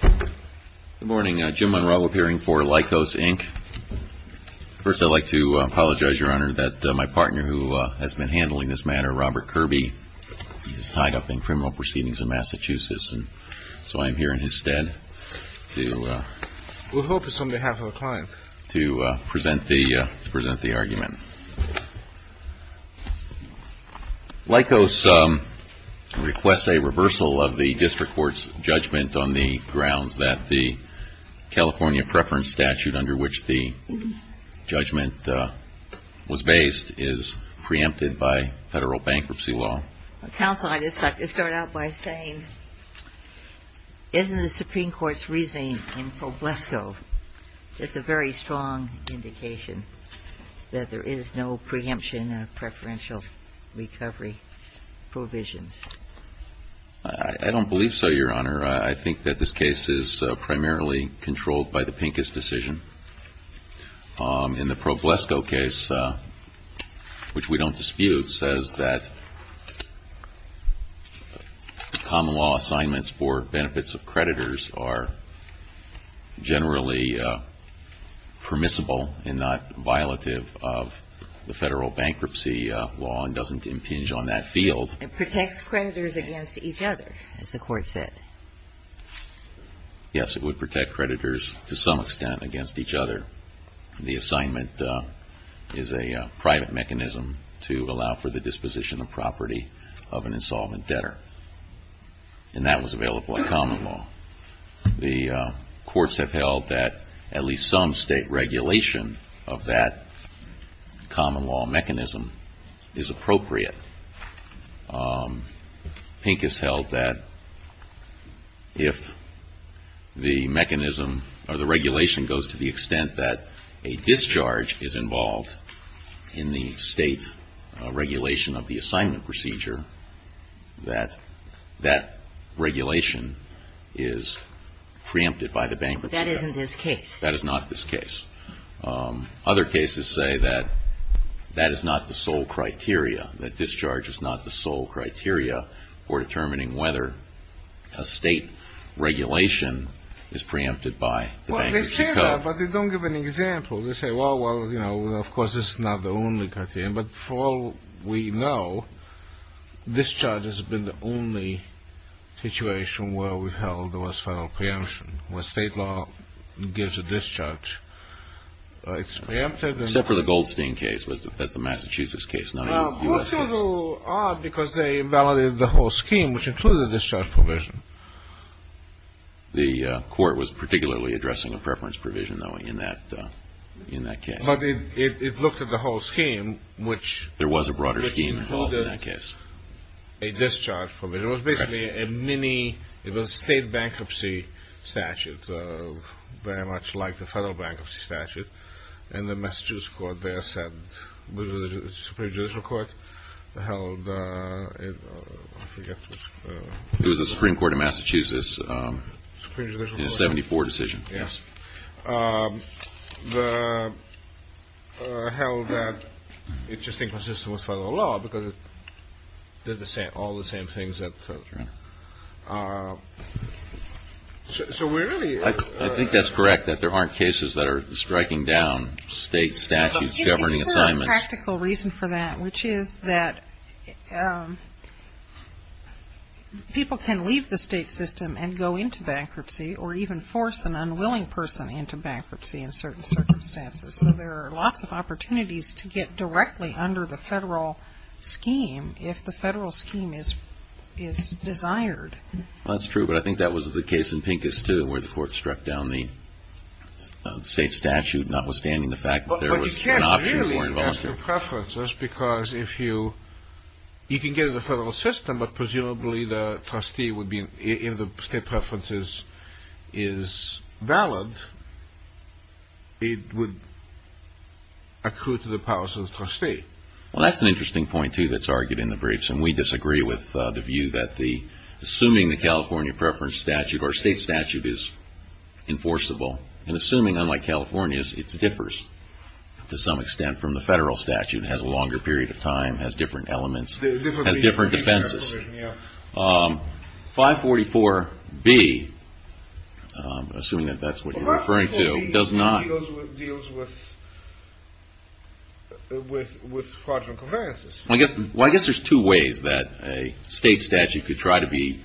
Good morning. Jim Monroe, appearing for Lycos, Inc. First, I'd like to apologize, Your Honor, that my partner, who has been handling this matter, Robert Kirby, is tied up in criminal proceedings in Massachusetts, and so I am here in his stead to present the argument. Lycos requests a reversal of the district court's judgment on the grounds that the California preference statute under which the judgment was based is preempted by federal bankruptcy law. Counsel, I'd just like to start out by saying, isn't the Supreme Court's reasoning in Foblesco just a very strong indication that there is no preemption of preferential recovery provisions? I don't believe so, Your Honor. I think that this case is primarily controlled by the Pincus decision. In the Foblesco case, which we don't dispute, says that common law assignments for benefits of creditors are generally permissible and not violative of the federal bankruptcy law and doesn't impinge on that field. It protects creditors against each other, as the Court said. Yes, it would protect creditors to some extent against each other. The assignment is a private mechanism to allow for the disposition of property of an insolvent debtor. And that was available in common law. The courts have held that at least some state regulation of that common law mechanism is appropriate. Pincus held that if the mechanism or the regulation goes to the extent that a discharge is involved in the state regulation of the assignment procedure, that that regulation is preempted by the Bankruptcy Code. But that isn't this case. That is not this case. Other cases say that that is not the sole criteria, that discharge is not the sole criteria for determining whether a state regulation is preempted by the Bankruptcy Code. Well, they say that, but they don't give an example. They say, well, you know, of course, this is not the only criterion, but for all we know, discharge has been the only situation where we've held the West Federal preemption, where state law gives a discharge. It's preempted. Except for the Goldstein case. That's the Massachusetts case, not even the U.S. case. Well, most people are, because they invalidated the whole scheme, which included the discharge provision. The court was particularly addressing a preference provision, though, in that case. But it looked at the whole scheme, which included a discharge provision. It was basically a state bankruptcy statute, very much like the federal bankruptcy statute, and the Massachusetts Supreme Judicial Court held it. It was the Supreme Court of Massachusetts in a 74 decision. Yes. Held that it just inconsistent with federal law because it did all the same things that the Federal Attorney. So we really. I think that's correct, that there aren't cases that are striking down state statutes governing assignments. There's a practical reason for that, which is that people can leave the state system and go into bankruptcy or even force an unwilling person into bankruptcy in certain circumstances. So there are lots of opportunities to get directly under the federal scheme if the federal scheme is desired. Well, that's true, but I think that was the case in Pincus, too, where the court struck down the state statute, notwithstanding the fact that there was an option. Well, that's an interesting point, too, that's argued in the briefs, and we disagree with the view that assuming the California preference statute or state statute is enforceable and assuming, unlike California's, it differs to some extent from the federal statute, has a longer period of time, has different elements, has different defenses. 544B, assuming that that's what you're referring to, does not. 544B deals with fraudulent conveyances. Well, I guess there's two ways that a state statute could try to be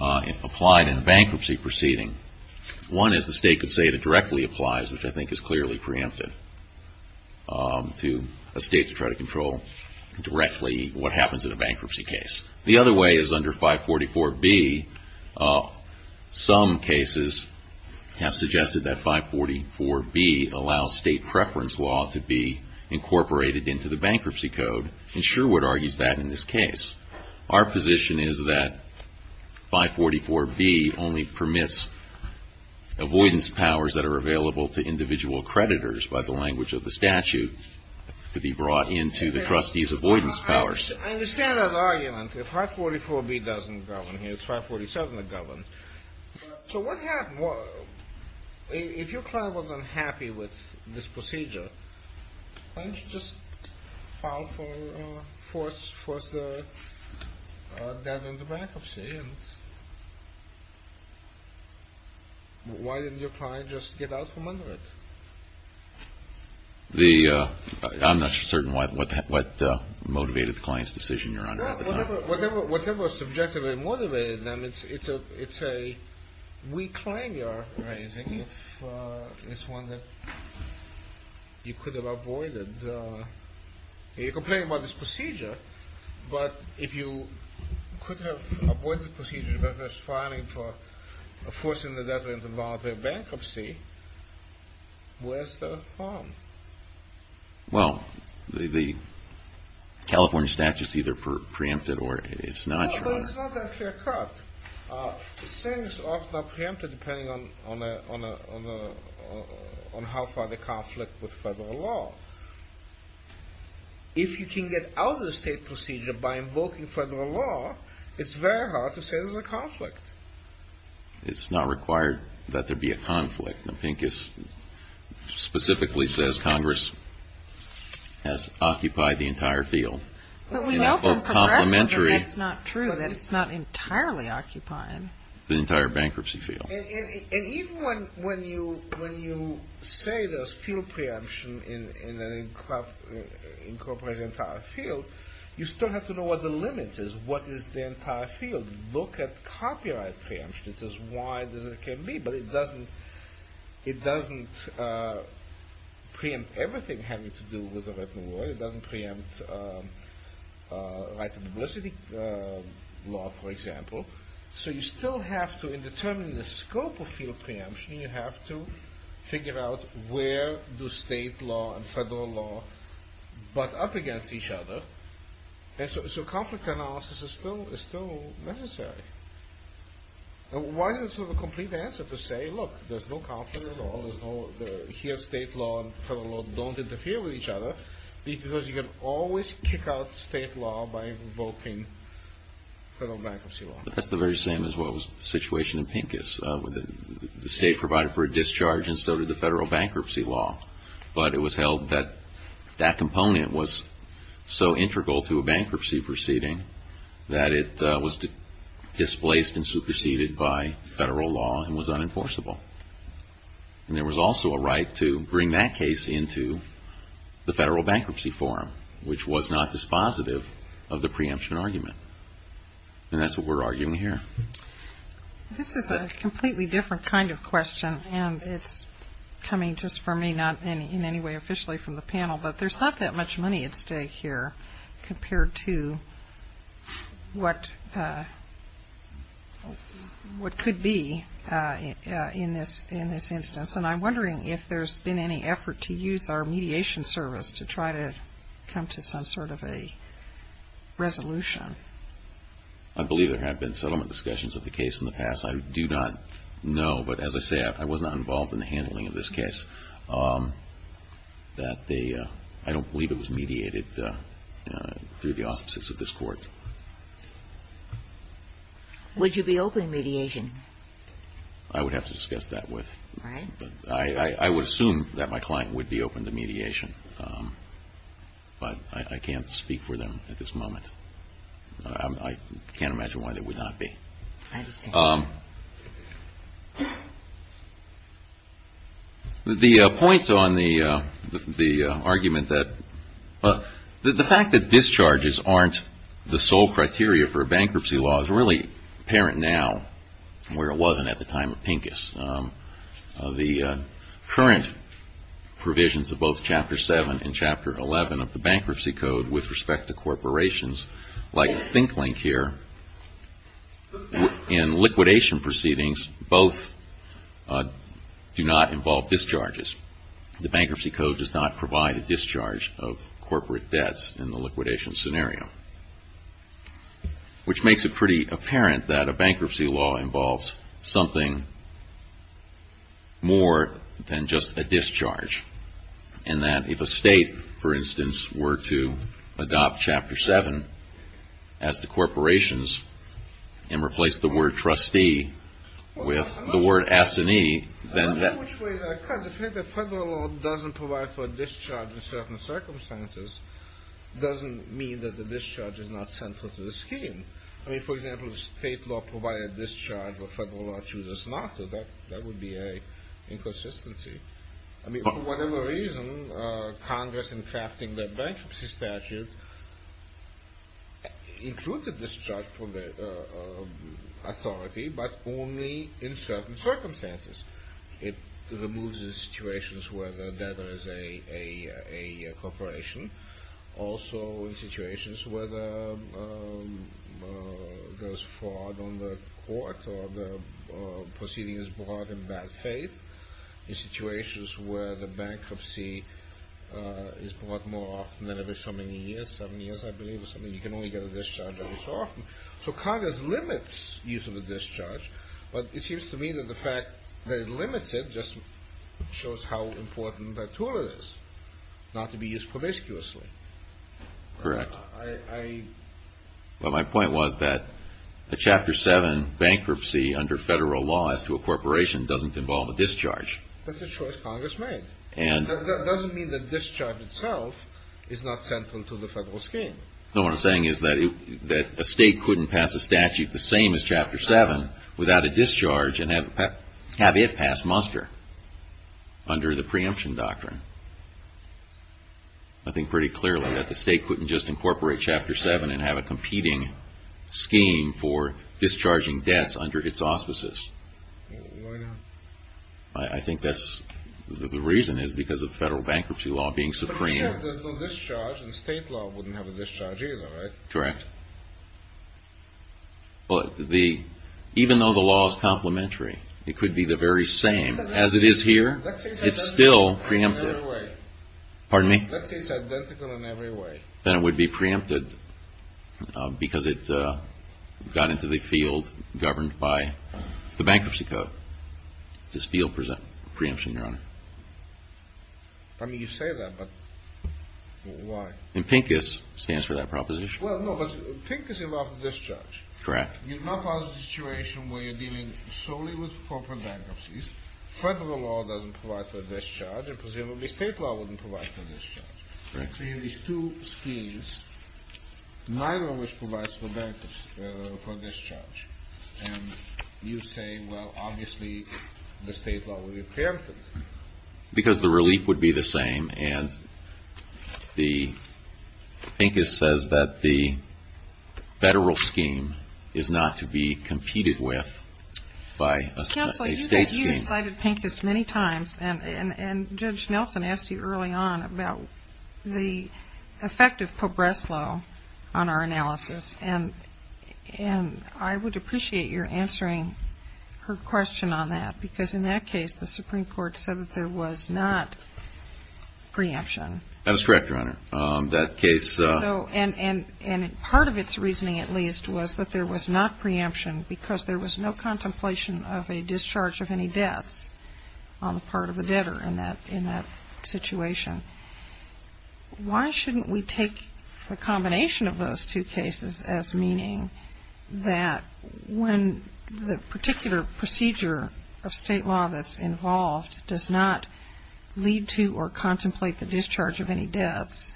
applied in a bankruptcy proceeding. One is the state could say that it directly applies, which I think is clearly preemptive, to a state to try to control directly what happens in a bankruptcy case. The other way is under 544B. Some cases have suggested that 544B allows state preference law to be incorporated into the bankruptcy code, and Sherwood argues that in this case. Our position is that 544B only permits avoidance powers that are available to individual creditors, by the language of the statute, to be brought into the trustee's avoidance powers. I understand that argument. If 544B doesn't govern here, it's 547 that governs. So what happened? If your client was unhappy with this procedure, why didn't you just file for death in the bankruptcy? Why didn't your client just get out from under it? I'm not certain what motivated the client's decision, Your Honor. Whatever subjectively motivated them, it's a weak claim you're raising. It's one that you could have avoided. You're complaining about this procedure, but if you could have avoided the procedure as far as filing for forcing the debtor into voluntary bankruptcy, where's the harm? Well, the California statute's either preempted or it's not, Your Honor. No, but it's not that clear-cut. It's saying it's often preempted depending on how far the conflict with federal law. If you can get out of the state procedure by invoking federal law, it's very hard to say there's a conflict. Now, Pincus specifically says Congress has occupied the entire field. But we know from Progressive that that's not true, that it's not entirely occupied. The entire bankruptcy field. And even when you say there's field preemption in an incorporated entire field, you still have to know what the limit is. What is the entire field? Look at copyright preemption. It's as wide as it can be, but it doesn't preempt everything having to do with the written word. It doesn't preempt right to publicity law, for example. So you still have to, in determining the scope of field preemption, you have to figure out where do state law and federal law butt up against each other. So conflict analysis is still necessary. Why is it sort of a complete answer to say, look, there's no conflict at all, here state law and federal law don't interfere with each other, because you can always kick out state law by invoking federal bankruptcy law? That's the very same as what was the situation in Pincus. The state provided for a discharge, and so did the federal bankruptcy law. But it was held that that component was so integral to a bankruptcy proceeding that it was displaced and superseded by federal law and was unenforceable. And there was also a right to bring that case into the federal bankruptcy forum, which was not dispositive of the preemption argument. And that's what we're arguing here. This is a completely different kind of question, and it's coming just from me, not in any way officially from the panel, but there's not that much money at stake here compared to what could be in this instance. And I'm wondering if there's been any effort to use our mediation service to try to come to some sort of a resolution. I believe there have been settlement discussions of the case in the past. I do not know, but as I say, I was not involved in the handling of this case. I don't believe it was mediated through the auspices of this Court. Would you be open to mediation? I would have to discuss that with. All right. I would assume that my client would be open to mediation, but I can't speak for them at this moment. I can't imagine why they would not be. I understand. The point on the argument that the fact that discharges aren't the sole criteria for a bankruptcy law is really apparent now where it wasn't at the time of Pincus. The current provisions of both Chapter 7 and Chapter 11 of the Bankruptcy Code with respect to corporations, like Think Link here, in liquidation proceedings both do not involve discharges. The Bankruptcy Code does not provide a discharge of corporate debts in the liquidation scenario, which makes it pretty apparent that a bankruptcy law involves something more than just a discharge and that if a state, for instance, were to adopt Chapter 7 as to corporations and replace the word trustee with the word assinee, then that— I don't know which way that occurs. If the federal law doesn't provide for a discharge in certain circumstances, it doesn't mean that the discharge is not central to the scheme. I mean, for example, if state law provided a discharge where federal law chooses not to, that would be an inconsistency. I mean, for whatever reason, Congress, in crafting the bankruptcy statute, included discharge for the authority, but only in certain circumstances. It removes the situations where the debtor is a corporation, also in situations where there's fraud on the court or the proceeding is brought in bad faith, in situations where the bankruptcy is brought more often than every so many years. Seven years, I believe, is something you can only get a discharge every so often. So Congress limits use of a discharge, but it seems to me that the fact that it limits it just shows how important that tool is, not to be used promiscuously. Correct. I— Well, my point was that a Chapter 7 bankruptcy under federal law as to a corporation doesn't involve a discharge. But the choice Congress made. And— That doesn't mean that discharge itself is not central to the federal scheme. No, what I'm saying is that a state couldn't pass a statute the same as Chapter 7 without a discharge and have it pass muster under the preemption doctrine. I think pretty clearly that the state couldn't just incorporate Chapter 7 and have a competing scheme for discharging debts under its auspices. Why not? I think that's—the reason is because of federal bankruptcy law being supreme. But I'm saying if there's no discharge, the state law wouldn't have a discharge either, right? Correct. Well, the—even though the law is complementary, it could be the very same. As it is here, it's still preempted. Let's say it's identical in every way. Pardon me? Let's say it's identical in every way. Then it would be preempted because it got into the field governed by the Bankruptcy Code, this field preemption, Your Honor. I mean, you say that, but why? And PINCUS stands for that proposition. Well, no, but PINCUS involved a discharge. Correct. You're not in a situation where you're dealing solely with corporate bankruptcies. Federal law doesn't provide for a discharge, and presumably state law wouldn't provide for a discharge. Correct. So you have these two schemes, neither of which provides for bankruptcy—for a discharge. And you say, well, obviously the state law would be preempted. Because the relief would be the same, and PINCUS says that the federal scheme is not to be competed with by a state scheme. Counsel, you cited PINCUS many times, and Judge Nelson asked you early on about the effect of Pobreslo on our analysis. And I would appreciate your answering her question on that. Because in that case, the Supreme Court said that there was not preemption. That is correct, Your Honor. And part of its reasoning, at least, was that there was not preemption, because there was no contemplation of a discharge of any debts on the part of the debtor in that situation. Why shouldn't we take the combination of those two cases as meaning that when the particular procedure of state law that's involved does not lead to or contemplate the discharge of any debts,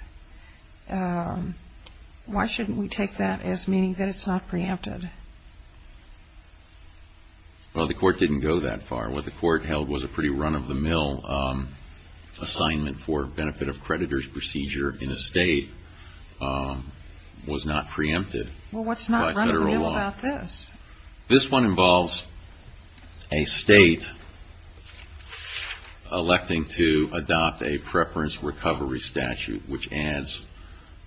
why shouldn't we take that as meaning that it's not preempted? Well, the Court didn't go that far. What the Court held was a pretty run-of-the-mill assignment for benefit of creditors procedure in a state was not preempted by federal law. Well, what's not run-of-the-mill about this? This one involves a state electing to adopt a preference recovery statute, which adds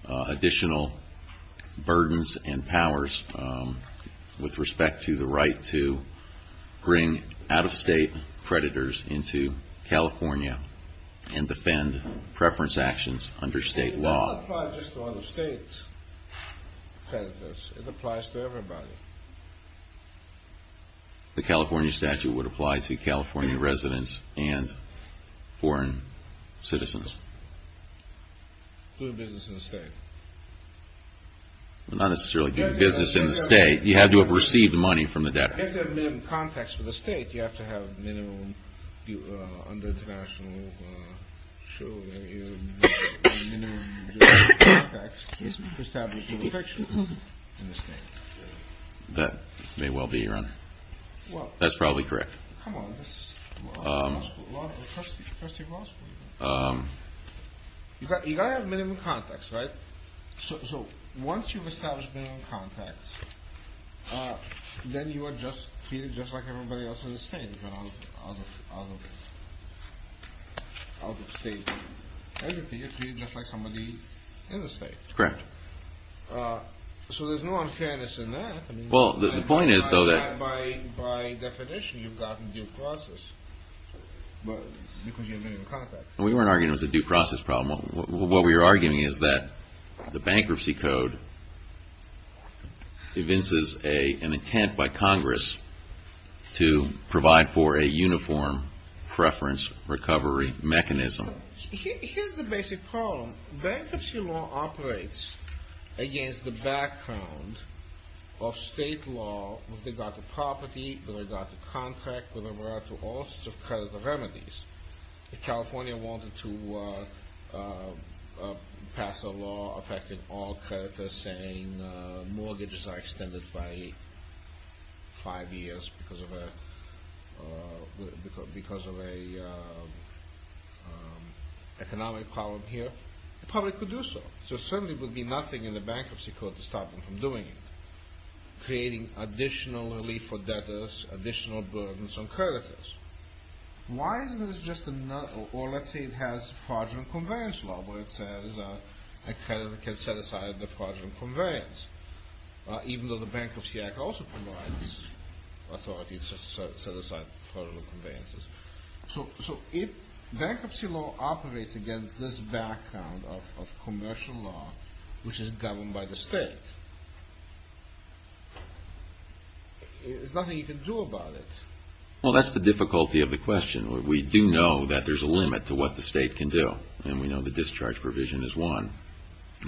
additional burdens and powers with respect to the right to bring out-of-state creditors into California and defend preference actions under state law. It doesn't apply just to out-of-state creditors. It applies to everybody. The California statute would apply to California residents and foreign citizens. Do business in the state. Well, not necessarily do business in the state. You have to have received money from the debtor. You have to have minimum contacts for the state. It sounds like you have to have minimum, under international law, minimum contacts to establish your protection in the state. That may well be, Your Honor. That's probably correct. Come on. This is law school. You've got to have minimum contacts, right? So once you've established minimum contacts, then you are treated just like everybody else in the state. You're not out-of-state or anything. You're treated just like somebody in the state. Correct. So there's no unfairness in that. Well, the point is, though, that by definition, you've gotten due process because you have minimum contacts. We weren't arguing it was a due process problem. What we were arguing is that the bankruptcy code evinces an intent by Congress to provide for a uniform preference recovery mechanism. Here's the basic problem. Bankruptcy law operates against the background of state law with regard to property, with regard to contract, with regard to all sorts of credit remedies. If California wanted to pass a law affecting all creditors saying mortgages are extended by five years because of an economic problem here, it probably could do so. So certainly there would be nothing in the bankruptcy code to stop them from doing it. Creating additional relief for debtors, additional burdens on creditors. Why isn't this just another, or let's say it has fraudulent conveyance law where it says a creditor can set aside the fraudulent conveyance, even though the Bankruptcy Act also provides authority to set aside fraudulent conveyances. So if bankruptcy law operates against this background of commercial law, which is governed by the state, there's nothing you can do about it. Well, that's the difficulty of the question. We do know that there's a limit to what the state can do, and we know the discharge provision is one.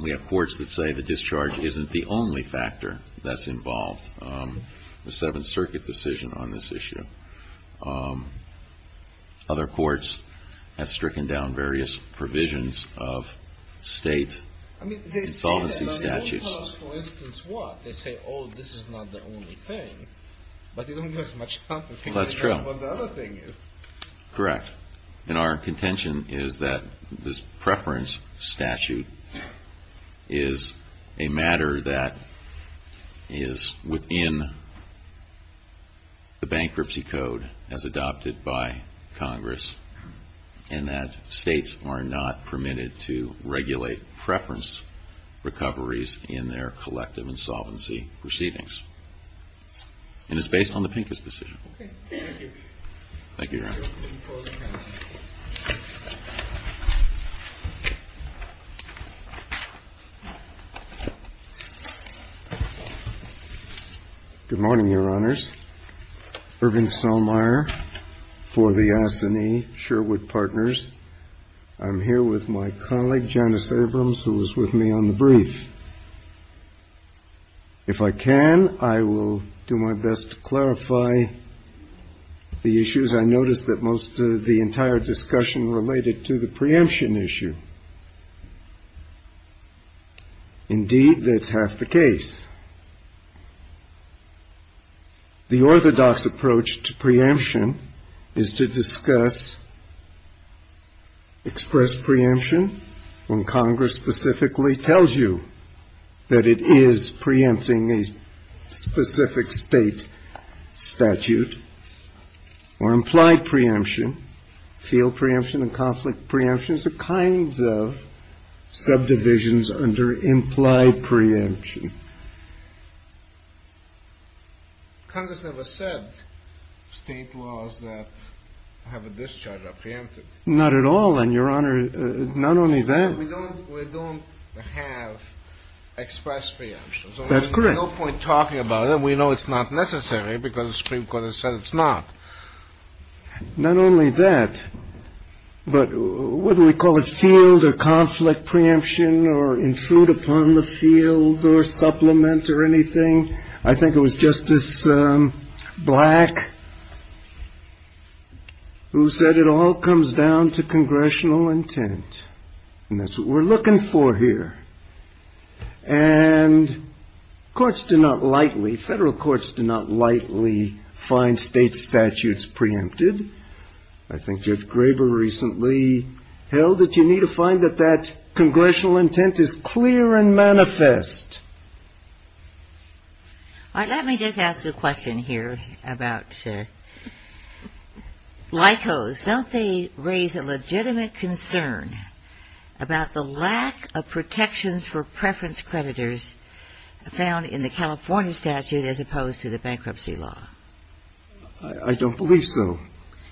We have courts that say the discharge isn't the only factor that's involved, the Seventh Circuit decision on this issue. Other courts have stricken down various provisions of state insolvency statutes. They tell us, for instance, what? They say, oh, this is not the only thing, but they don't give us much confidence. That's true. They don't know what the other thing is. Correct. And our contention is that this preference statute is a matter that is within the bankruptcy code as adopted by Congress, and that states are not permitted to regulate preference recoveries in their collective insolvency proceedings. And it's based on the Pincus decision. Okay. Thank you, Your Honor. Good morning, Your Honors. Irving Saulmeier for the Assinee Sherwood Partners. I'm here with my colleague, Janice Abrams, who is with me on the brief. If I can, I will do my best to clarify the issues. I noticed that most of the entire discussion related to the preemption issue. Indeed, that's half the case. The orthodox approach to preemption is to discuss expressed preemption, when Congress specifically tells you that it is preempting a specific state statute, or implied preemption, field preemption and conflict preemption. And the question is, what kind of subdivisions under implied preemption? Congress never said state laws that have a discharge are preempted. Not at all, Your Honor. Not only that. We don't have expressed preemption. That's correct. There's no point talking about it. We know it's not necessary because the Supreme Court has said it's not. Not only that, but whether we call it field or conflict preemption, or intrude upon the field or supplement or anything, I think it was Justice Black who said it all comes down to congressional intent. And that's what we're looking for here. And courts do not lightly, federal courts do not lightly find state statutes preempted. I think Judge Graber recently held it. You need to find that that congressional intent is clear and manifest. Let me just ask a question here about LICOs. Don't they raise a legitimate concern about the lack of protections for preference creditors found in the California statute as opposed to the bankruptcy law? I don't believe so.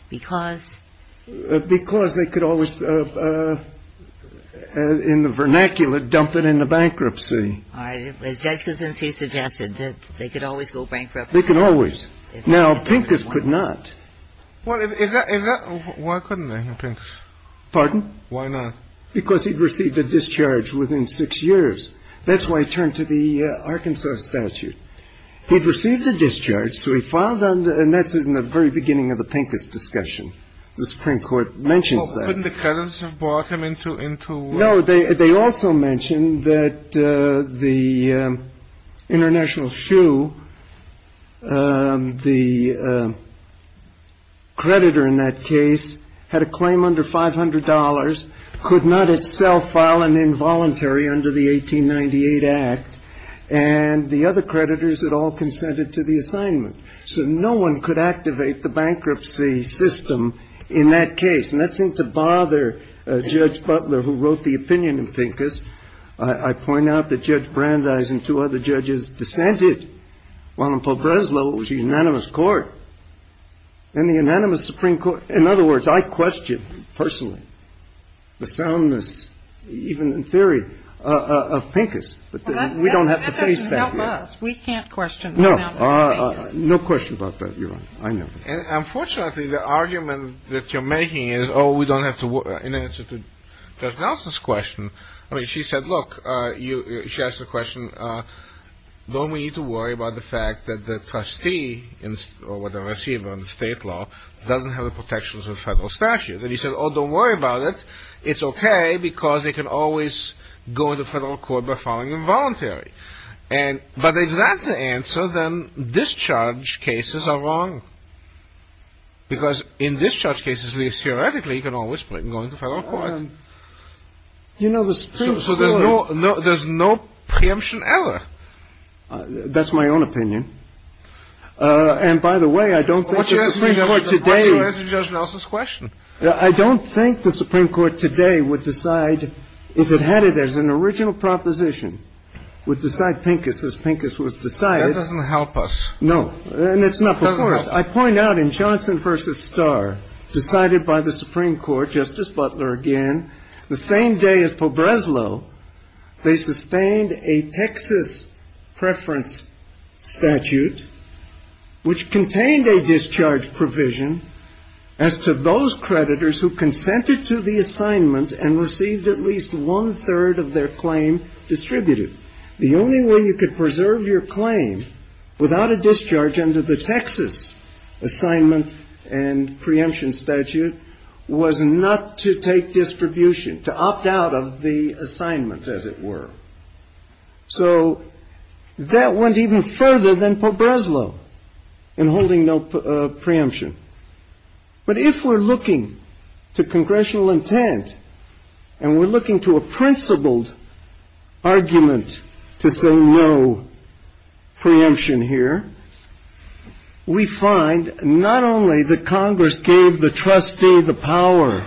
Because? Because they could always, in the vernacular, dump it in the bankruptcy. All right. As Judge Kuczynski suggested, they could always go bankrupt. They could always. Now, Pincus could not. Why couldn't they, Pincus? Pardon? Why not? Because he'd received a discharge within six years. That's why he turned to the Arkansas statute. He'd received a discharge, so he filed under, and that's in the very beginning of the Pincus discussion. The Supreme Court mentions that. Couldn't the creditors have brought him into? No, they also mentioned that the international shoe, the creditor in that case, had a claim under $500, could not itself file an involuntary under the 1898 Act, and the other creditors had all consented to the assignment. So no one could activate the bankruptcy system in that case. And that seemed to bother Judge Butler, who wrote the opinion in Pincus. I point out that Judge Brandeis and two other judges dissented, while in Pobreslo it was a unanimous court. In the unanimous Supreme Court, in other words, I question personally the soundness, even in theory, of Pincus. But we don't have to face that here. That doesn't help us. We can't question the soundness of Pincus. No. No question about that, Your Honor. I never. Unfortunately, the argument that you're making is, oh, we don't have to, in answer to Judge Nelson's question, I mean, she said, look, she asked the question, don't we need to worry about the fact that the trustee, or whatever receiver in the state law, doesn't have the protections of federal statute? And he said, oh, don't worry about it. It's okay, because they can always go into federal court by filing involuntary. But if that's the answer, then discharge cases are wrong, because in discharge cases, theoretically, you can always go into federal court. You know, the Supreme Court. So there's no preemption ever. That's my own opinion. And, by the way, I don't think the Supreme Court today. Well, what's the matter with Judge Nelson's question? I don't think the Supreme Court today would decide, if it had it as an original proposition, would decide Pincus as Pincus was decided. That doesn't help us. No. And it's not before us. I point out in Johnson v. Starr, decided by the Supreme Court, Justice Butler again, the same day as Pobreslo, they sustained a Texas preference statute, which contained a discharge provision as to those creditors who consented to the assignment and received at least one-third of their claim distributed. The only way you could preserve your claim without a discharge under the Texas assignment and preemption statute was not to take distribution, to opt out of the assignment, as it were. So that went even further than Pobreslo in holding no preemption. But if we're looking to congressional intent and we're looking to a principled argument to say no preemption here, we find not only that Congress gave the trustee the power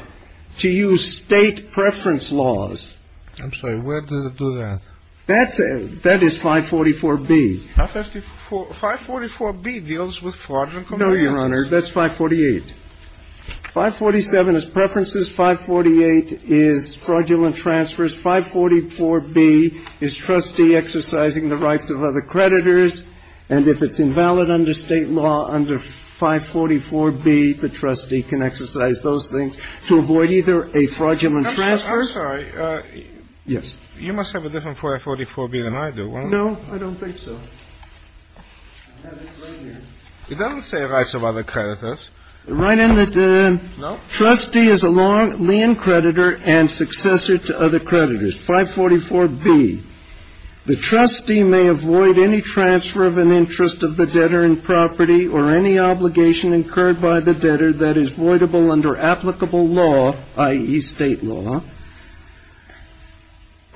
to use state preference laws. I'm sorry. Where does it do that? That is 544B. 544B deals with fraudulent compliance. No, Your Honor. That's 548. 547 is preferences. 548 is fraudulent transfers. 544B is trustee exercising the rights of other creditors. And if it's invalid under state law, under 544B, the trustee can exercise those things to avoid either a fraudulent transfer. I'm sorry. Yes. You must have a different 544B than I do, won't you? No, I don't think so. It doesn't say rights of other creditors. Right in the trustee is a long lien creditor and successor to other creditors, 544B. The trustee may avoid any transfer of an interest of the debtor in property or any obligation incurred by the debtor that is voidable under applicable law, i.e., state law,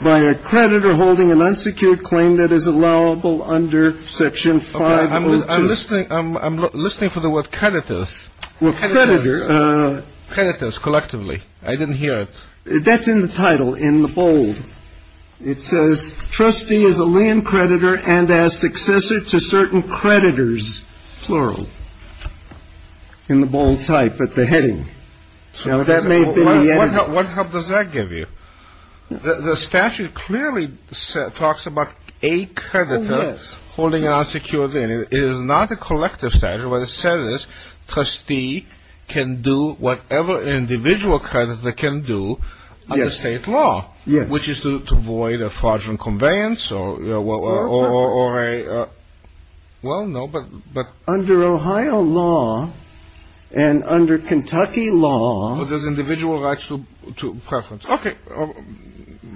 by a creditor holding an unsecured claim that is allowable under Section 502. Okay. I'm listening for the word creditors. Well, creditors. Creditors, collectively. I didn't hear it. That's in the title, in the bold. It says trustee is a lien creditor and as successor to certain creditors, plural. In the bold type at the heading. What help does that give you? The statute clearly talks about a creditor holding an unsecured lien. It is not a collective statute. What it says is trustee can do whatever an individual creditor can do under state law, which is to avoid a fraudulent conveyance or a, well, no. Under Ohio law and under Kentucky law. But there's individual rights to preference. Okay.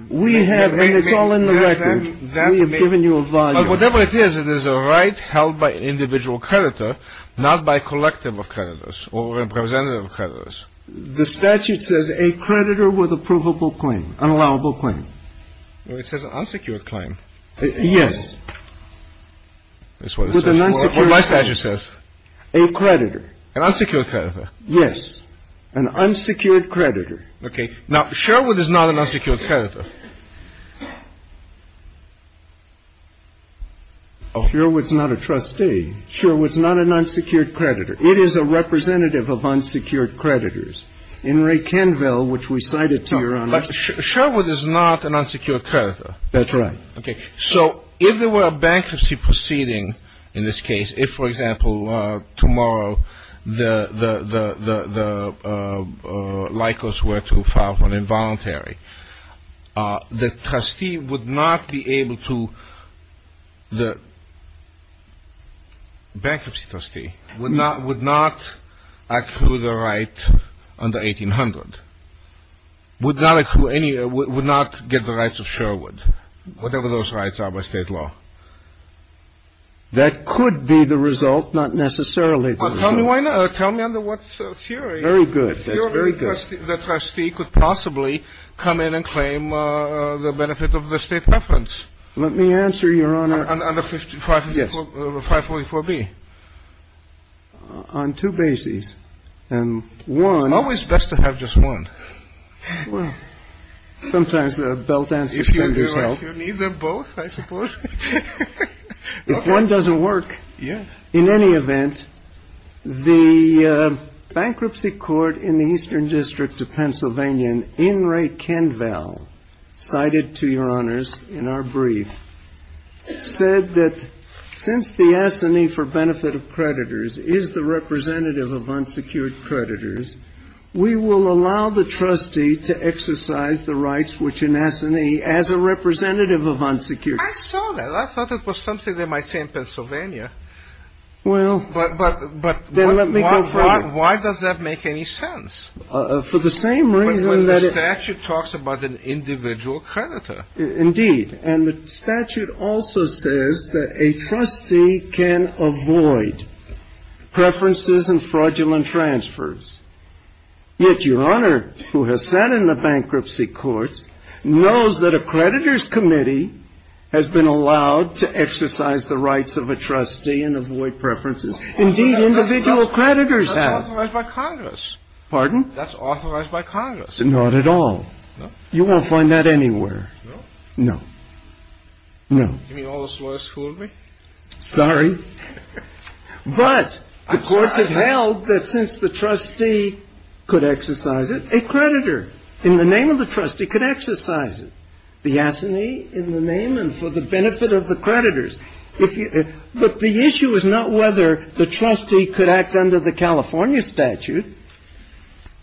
We have, and it's all in the record. We have given you a volume. Whatever it is, it is a right held by an individual creditor, not by a collective of creditors or representative of creditors. The statute says a creditor with a provable claim, unallowable claim. It says unsecured claim. Yes. What does it say? With an unsecured claim. What does my statute say? A creditor. An unsecured creditor. Yes. An unsecured creditor. Okay. Now, Sherwood is not an unsecured creditor. Sherwood's not a trustee. Sherwood's not an unsecured creditor. It is a representative of unsecured creditors. In Ray Canville, which we cited to Your Honor. But Sherwood is not an unsecured creditor. That's right. Okay. So if there were a bankruptcy proceeding in this case, if, for example, tomorrow the Likos were to file for an involuntary, the trustee would not be able to, the bankruptcy trustee would not accrue the right under 1800, would not accrue any, would not get the rights of Sherwood, whatever those rights are by state law. That could be the result, not necessarily. Well, tell me why not. Tell me under what theory. Very good. The theory that the trustee could possibly come in and claim the benefit of the state preference. Let me answer, Your Honor. Under 544B. On two bases. And one. It's always best to have just one. Well, sometimes the belt and stick benders help. If you need them both, I suppose. If one doesn't work. Yeah. In any event, the bankruptcy court in the Eastern District of Pennsylvania, in Ray Canville, cited to Your Honors in our brief, said that since the S&E for benefit of creditors is the representative of unsecured creditors, we will allow the trustee to exercise the rights which an S&E as a representative of unsecured creditors. I saw that. I thought it was something they might say in Pennsylvania. Well, then let me go further. Why does that make any sense? For the same reason that it — But the statute talks about an individual creditor. Indeed. And the statute also says that a trustee can avoid preferences and fraudulent transfers. Yet Your Honor, who has sat in the bankruptcy court, knows that a creditor's committee has been allowed to exercise the rights of a trustee and avoid preferences. Indeed, individual creditors have. That's authorized by Congress. Pardon? That's authorized by Congress. Not at all. No? You won't find that anywhere. No? No. No. You mean all this law school would be? Sorry. But the courts have held that since the trustee could exercise it, a creditor in the name of the trustee could exercise it. The S&E in the name and for the benefit of the creditors. But the issue is not whether the trustee could act under the California statute.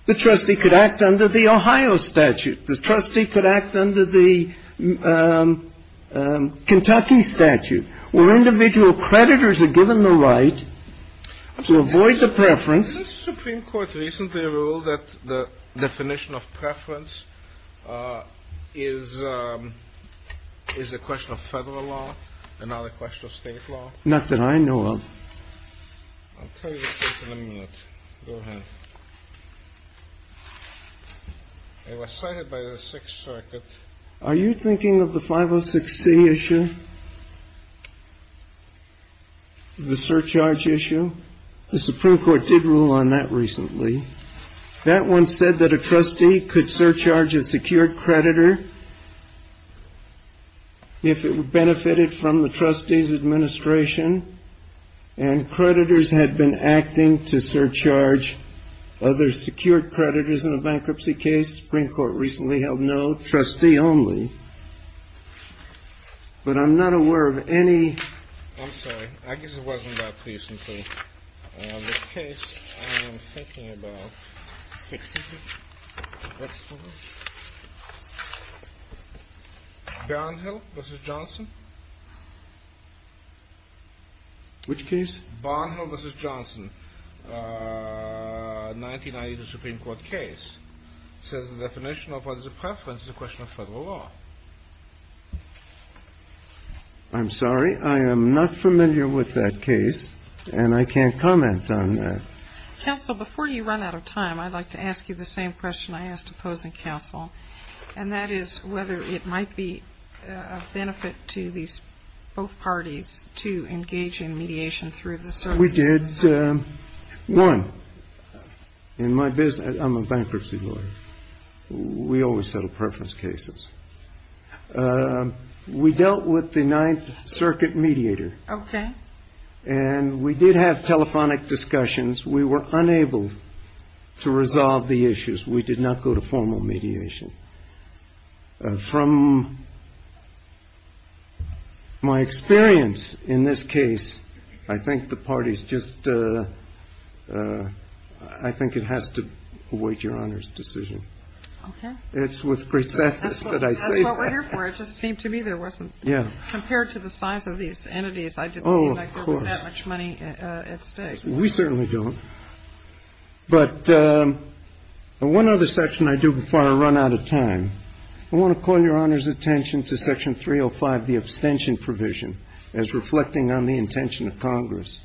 The trustee could act under the Ohio statute. The trustee could act under the Kentucky statute. Where individual creditors are given the right to avoid the preference. Has the Supreme Court recently ruled that the definition of preference is a question of Federal law and not a question of State law? Not that I know of. I'll tell you which one in a minute. Go ahead. It was cited by the Sixth Circuit. Are you thinking of the 506C issue? The surcharge issue? The Supreme Court did rule on that recently. That one said that a trustee could surcharge a secured creditor if it benefited from the trustee's administration. And creditors had been acting to surcharge other secured creditors in a bankruptcy case. Supreme Court recently held no. Trustee only. But I'm not aware of any. I'm sorry. I guess it wasn't that recently. The case I am thinking about. Sixth Circuit? That's the one. Barnhill v. Johnson? Which case? Barnhill v. Johnson. 1990, the Supreme Court case. Says the definition of what is a preference is a question of Federal law. I'm sorry. I am not familiar with that case. And I can't comment on that. Counsel, before you run out of time, I'd like to ask you the same question I asked opposing counsel. And that is whether it might be a benefit to these both parties to engage in mediation through the services. We did. One, in my business, I'm a bankruptcy lawyer. We always settle preference cases. We dealt with the Ninth Circuit mediator. Okay. And we did have telephonic discussions. We were unable to resolve the issues. We did not go to formal mediation. From my experience in this case, I think the parties just I think it has to avoid your Honor's decision. Okay. It's with great sadness that I say that. That's what we're here for. It just seemed to me there wasn't. Yeah. Compared to the size of these entities, I didn't see that there was that much money at stake. Oh, of course. We certainly don't. But one other section I do before I run out of time. I want to call Your Honor's attention to Section 305, the abstention provision, as reflecting on the intention of Congress.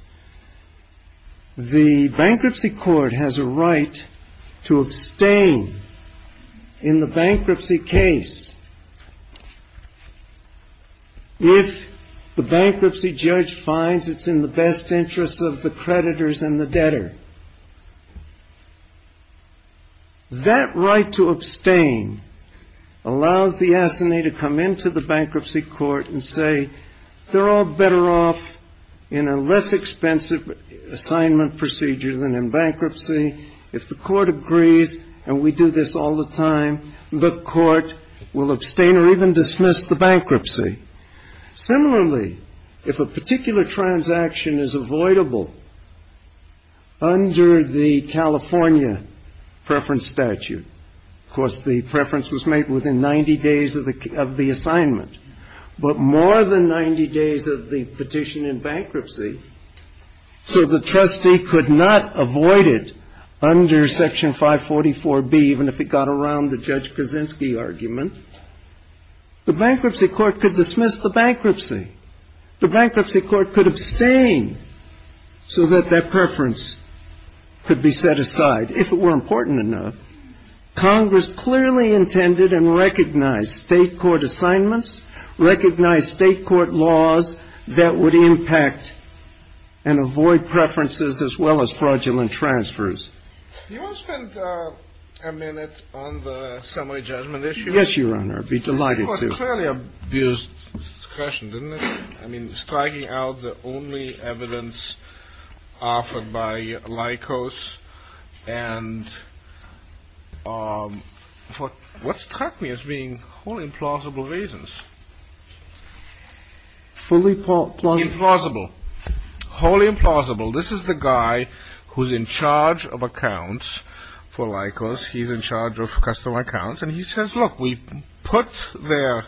The bankruptcy court has a right to abstain in the bankruptcy case. If the bankruptcy judge finds it's in the best interest of the creditors and the debtor. That right to abstain allows the assignee to come into the bankruptcy court and say they're all better off in a less expensive assignment procedure than in bankruptcy. If the court agrees and we do this all the time, the court will abstain or even dismiss the bankruptcy. Similarly, if a particular transaction is avoidable under the California preference statute. Of course, the preference was made within 90 days of the assignment. But more than 90 days of the petition in bankruptcy, so the trustee could not avoid it under Section 544B, even if it got around the Judge Kaczynski argument. The bankruptcy court could dismiss the bankruptcy. The bankruptcy court could abstain so that that preference could be set aside, if it were important enough. Congress clearly intended and recognized state court assignments, recognized state court laws that would impact and avoid preferences as well as fraudulent transfers. Do you want to spend a minute on the summary judgment issue? Yes, Your Honor. I'd be delighted to. It was clearly abused discretion, didn't it? I mean, striking out the only evidence offered by Lycos and for what struck me as being wholly implausible reasons. Fully implausible. Implausible. Wholly implausible. This is the guy who's in charge of accounts for Lycos. He's in charge of customer accounts. And he says, look, we put their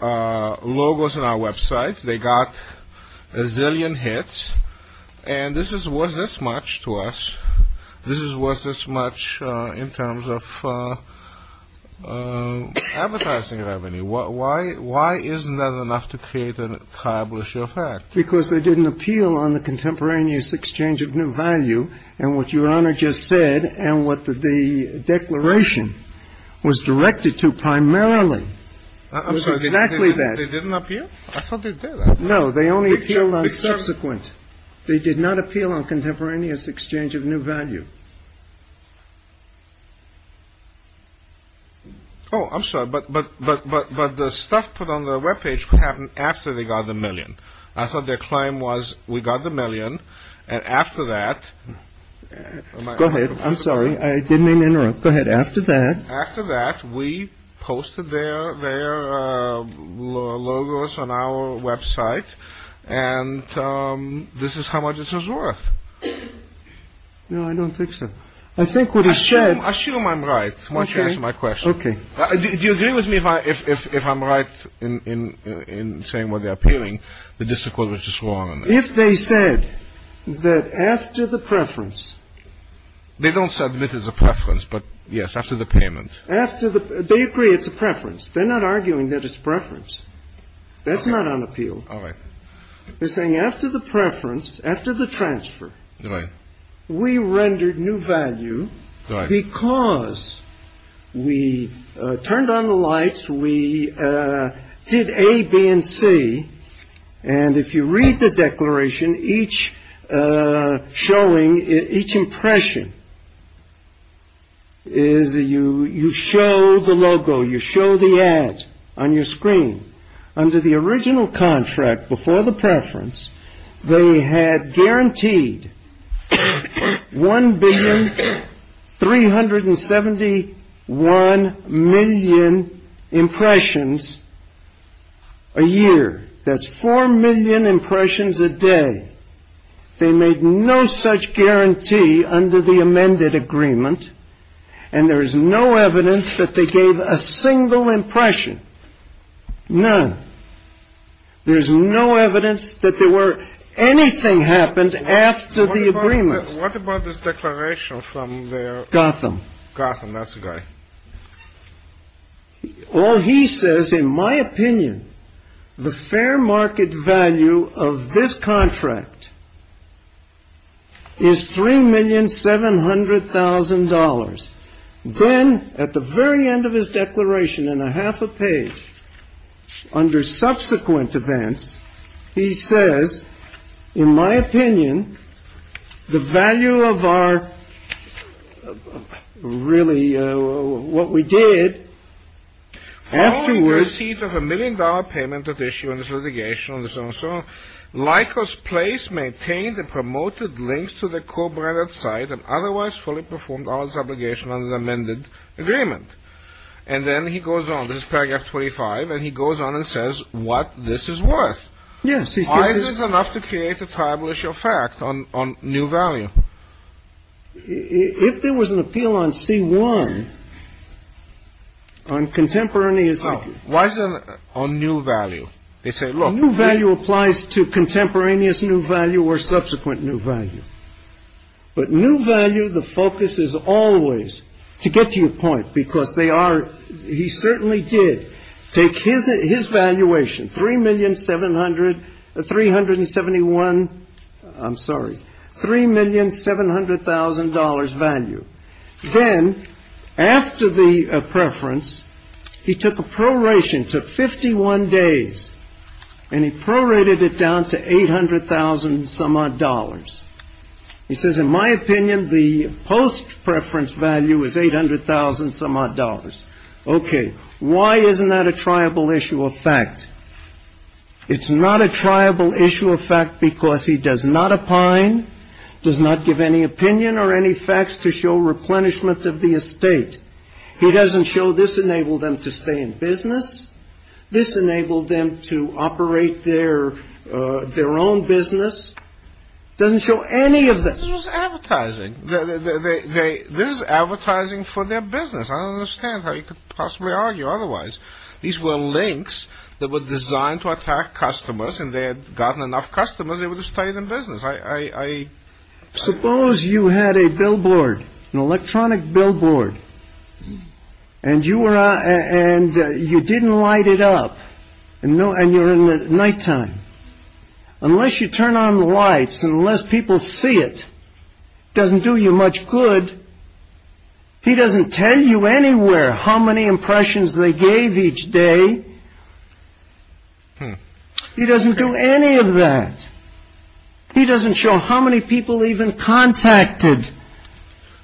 logos on our websites. They got a zillion hits. And this is worth this much to us. This is worth this much in terms of advertising revenue. Why isn't that enough to create and accomplish your facts? Because they didn't appeal on the contemporaneous exchange of new value. And what Your Honor just said and what the declaration was directed to primarily was exactly that. They didn't appeal? I thought they did. No, they only appealed on subsequent. They did not appeal on contemporaneous exchange of new value. Oh, I'm sorry. But but but but but the stuff put on the Web page happened after they got the million. I thought their claim was we got the million. And after that. Go ahead. I'm sorry. I didn't mean to interrupt. Go ahead. After that. After that, we posted their their logos on our Web site. And this is how much this is worth. No, I don't think so. I think what he said. I assume I'm right. Why don't you answer my question? Okay. Do you agree with me if I if if if I'm right in in in saying what they're appealing? The district court was just wrong. If they said that after the preference. They don't submit as a preference. But yes, after the payment. After the. They agree it's a preference. They're not arguing that it's preference. That's not on appeal. All right. They're saying after the preference. After the transfer. Right. We rendered new value. Right. Because we turned on the lights. We did A, B and C. And if you read the declaration, each showing each impression. Is you you show the logo. You show the ads on your screen. Under the original contract before the preference. They had guaranteed. One billion three hundred and seventy one million impressions. A year. That's four million impressions a day. They made no such guarantee under the amended agreement. And there is no evidence that they gave a single impression. None. There's no evidence that there were anything happened after the agreement. What about this declaration from the. Gotham. Gotham. That's right. All he says, in my opinion, the fair market value of this contract. Is three million seven hundred thousand dollars. Then at the very end of his declaration and a half a page. Under subsequent events. He says, in my opinion, the value of our. Really what we did. Afterwards. Receipt of a million dollar payment of issue in this litigation. And so on. Lycos place maintained and promoted links to the co-branded site. And otherwise fully performed all its obligation under the amended agreement. And then he goes on. This is paragraph twenty five. And he goes on and says what this is worth. Yes. It is enough to create a tribal issue of fact on on new value. If there was an appeal on C1. On contemporaneous. Why is it on new value? They say, look, new value applies to contemporaneous new value or subsequent new value. But new value. The focus is always to get to your point, because they are. He certainly did take his his valuation. Three million seven hundred three hundred and seventy one. I'm sorry. Three million seven hundred thousand dollars value. Then after the preference, he took a proration to 51 days and he prorated it down to eight hundred thousand some odd dollars. He says, in my opinion, the post preference value is eight hundred thousand some odd dollars. OK. Why isn't that a tribal issue of fact? It's not a tribal issue of fact because he does not opine, does not give any opinion or any facts to show replenishment of the estate. He doesn't show this enable them to stay in business. This enabled them to operate their their own business. Doesn't show any of that advertising. They this is advertising for their business. I understand how you could possibly argue otherwise. These were links that were designed to attack customers and they had gotten enough customers. They would have stayed in business. I suppose you had a billboard, an electronic billboard. And you were and you didn't light it up. No. And you're in the nighttime unless you turn on the lights and unless people see it doesn't do you much good. He doesn't tell you anywhere how many impressions they gave each day. He doesn't do any of that. He doesn't show how many people even contacted.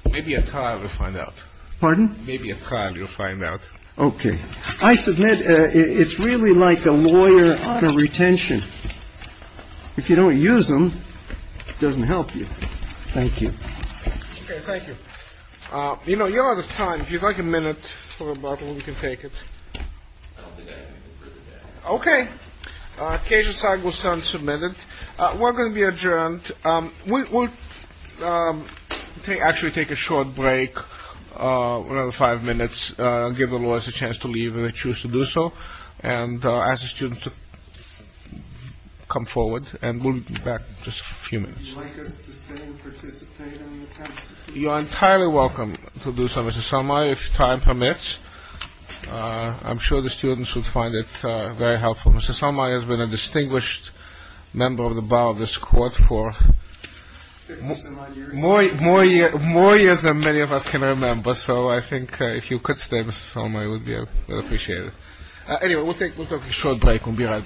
Maybe a child will find out. Pardon? Maybe a child will find out. OK. I submit it's really like a lawyer for retention. If you don't use them, it doesn't help you. Thank you. Thank you. You know, you're out of time. If you'd like a minute for a bottle, we can take it. OK. Occasion side will send submitted. We're going to be adjourned. We will actually take a short break. Five minutes. Give the lawyers a chance to leave and choose to do so. And as a student to come forward and move back just a few minutes. You are entirely welcome to do some of the summer if time permits. I'm sure the students will find it very helpful. Mr. Somali has been a distinguished member of the bar of this court for more, more, more years than many of us can remember. So I think if you could stay with me, I would appreciate it. Anyway, we'll take a short break. We'll be right back.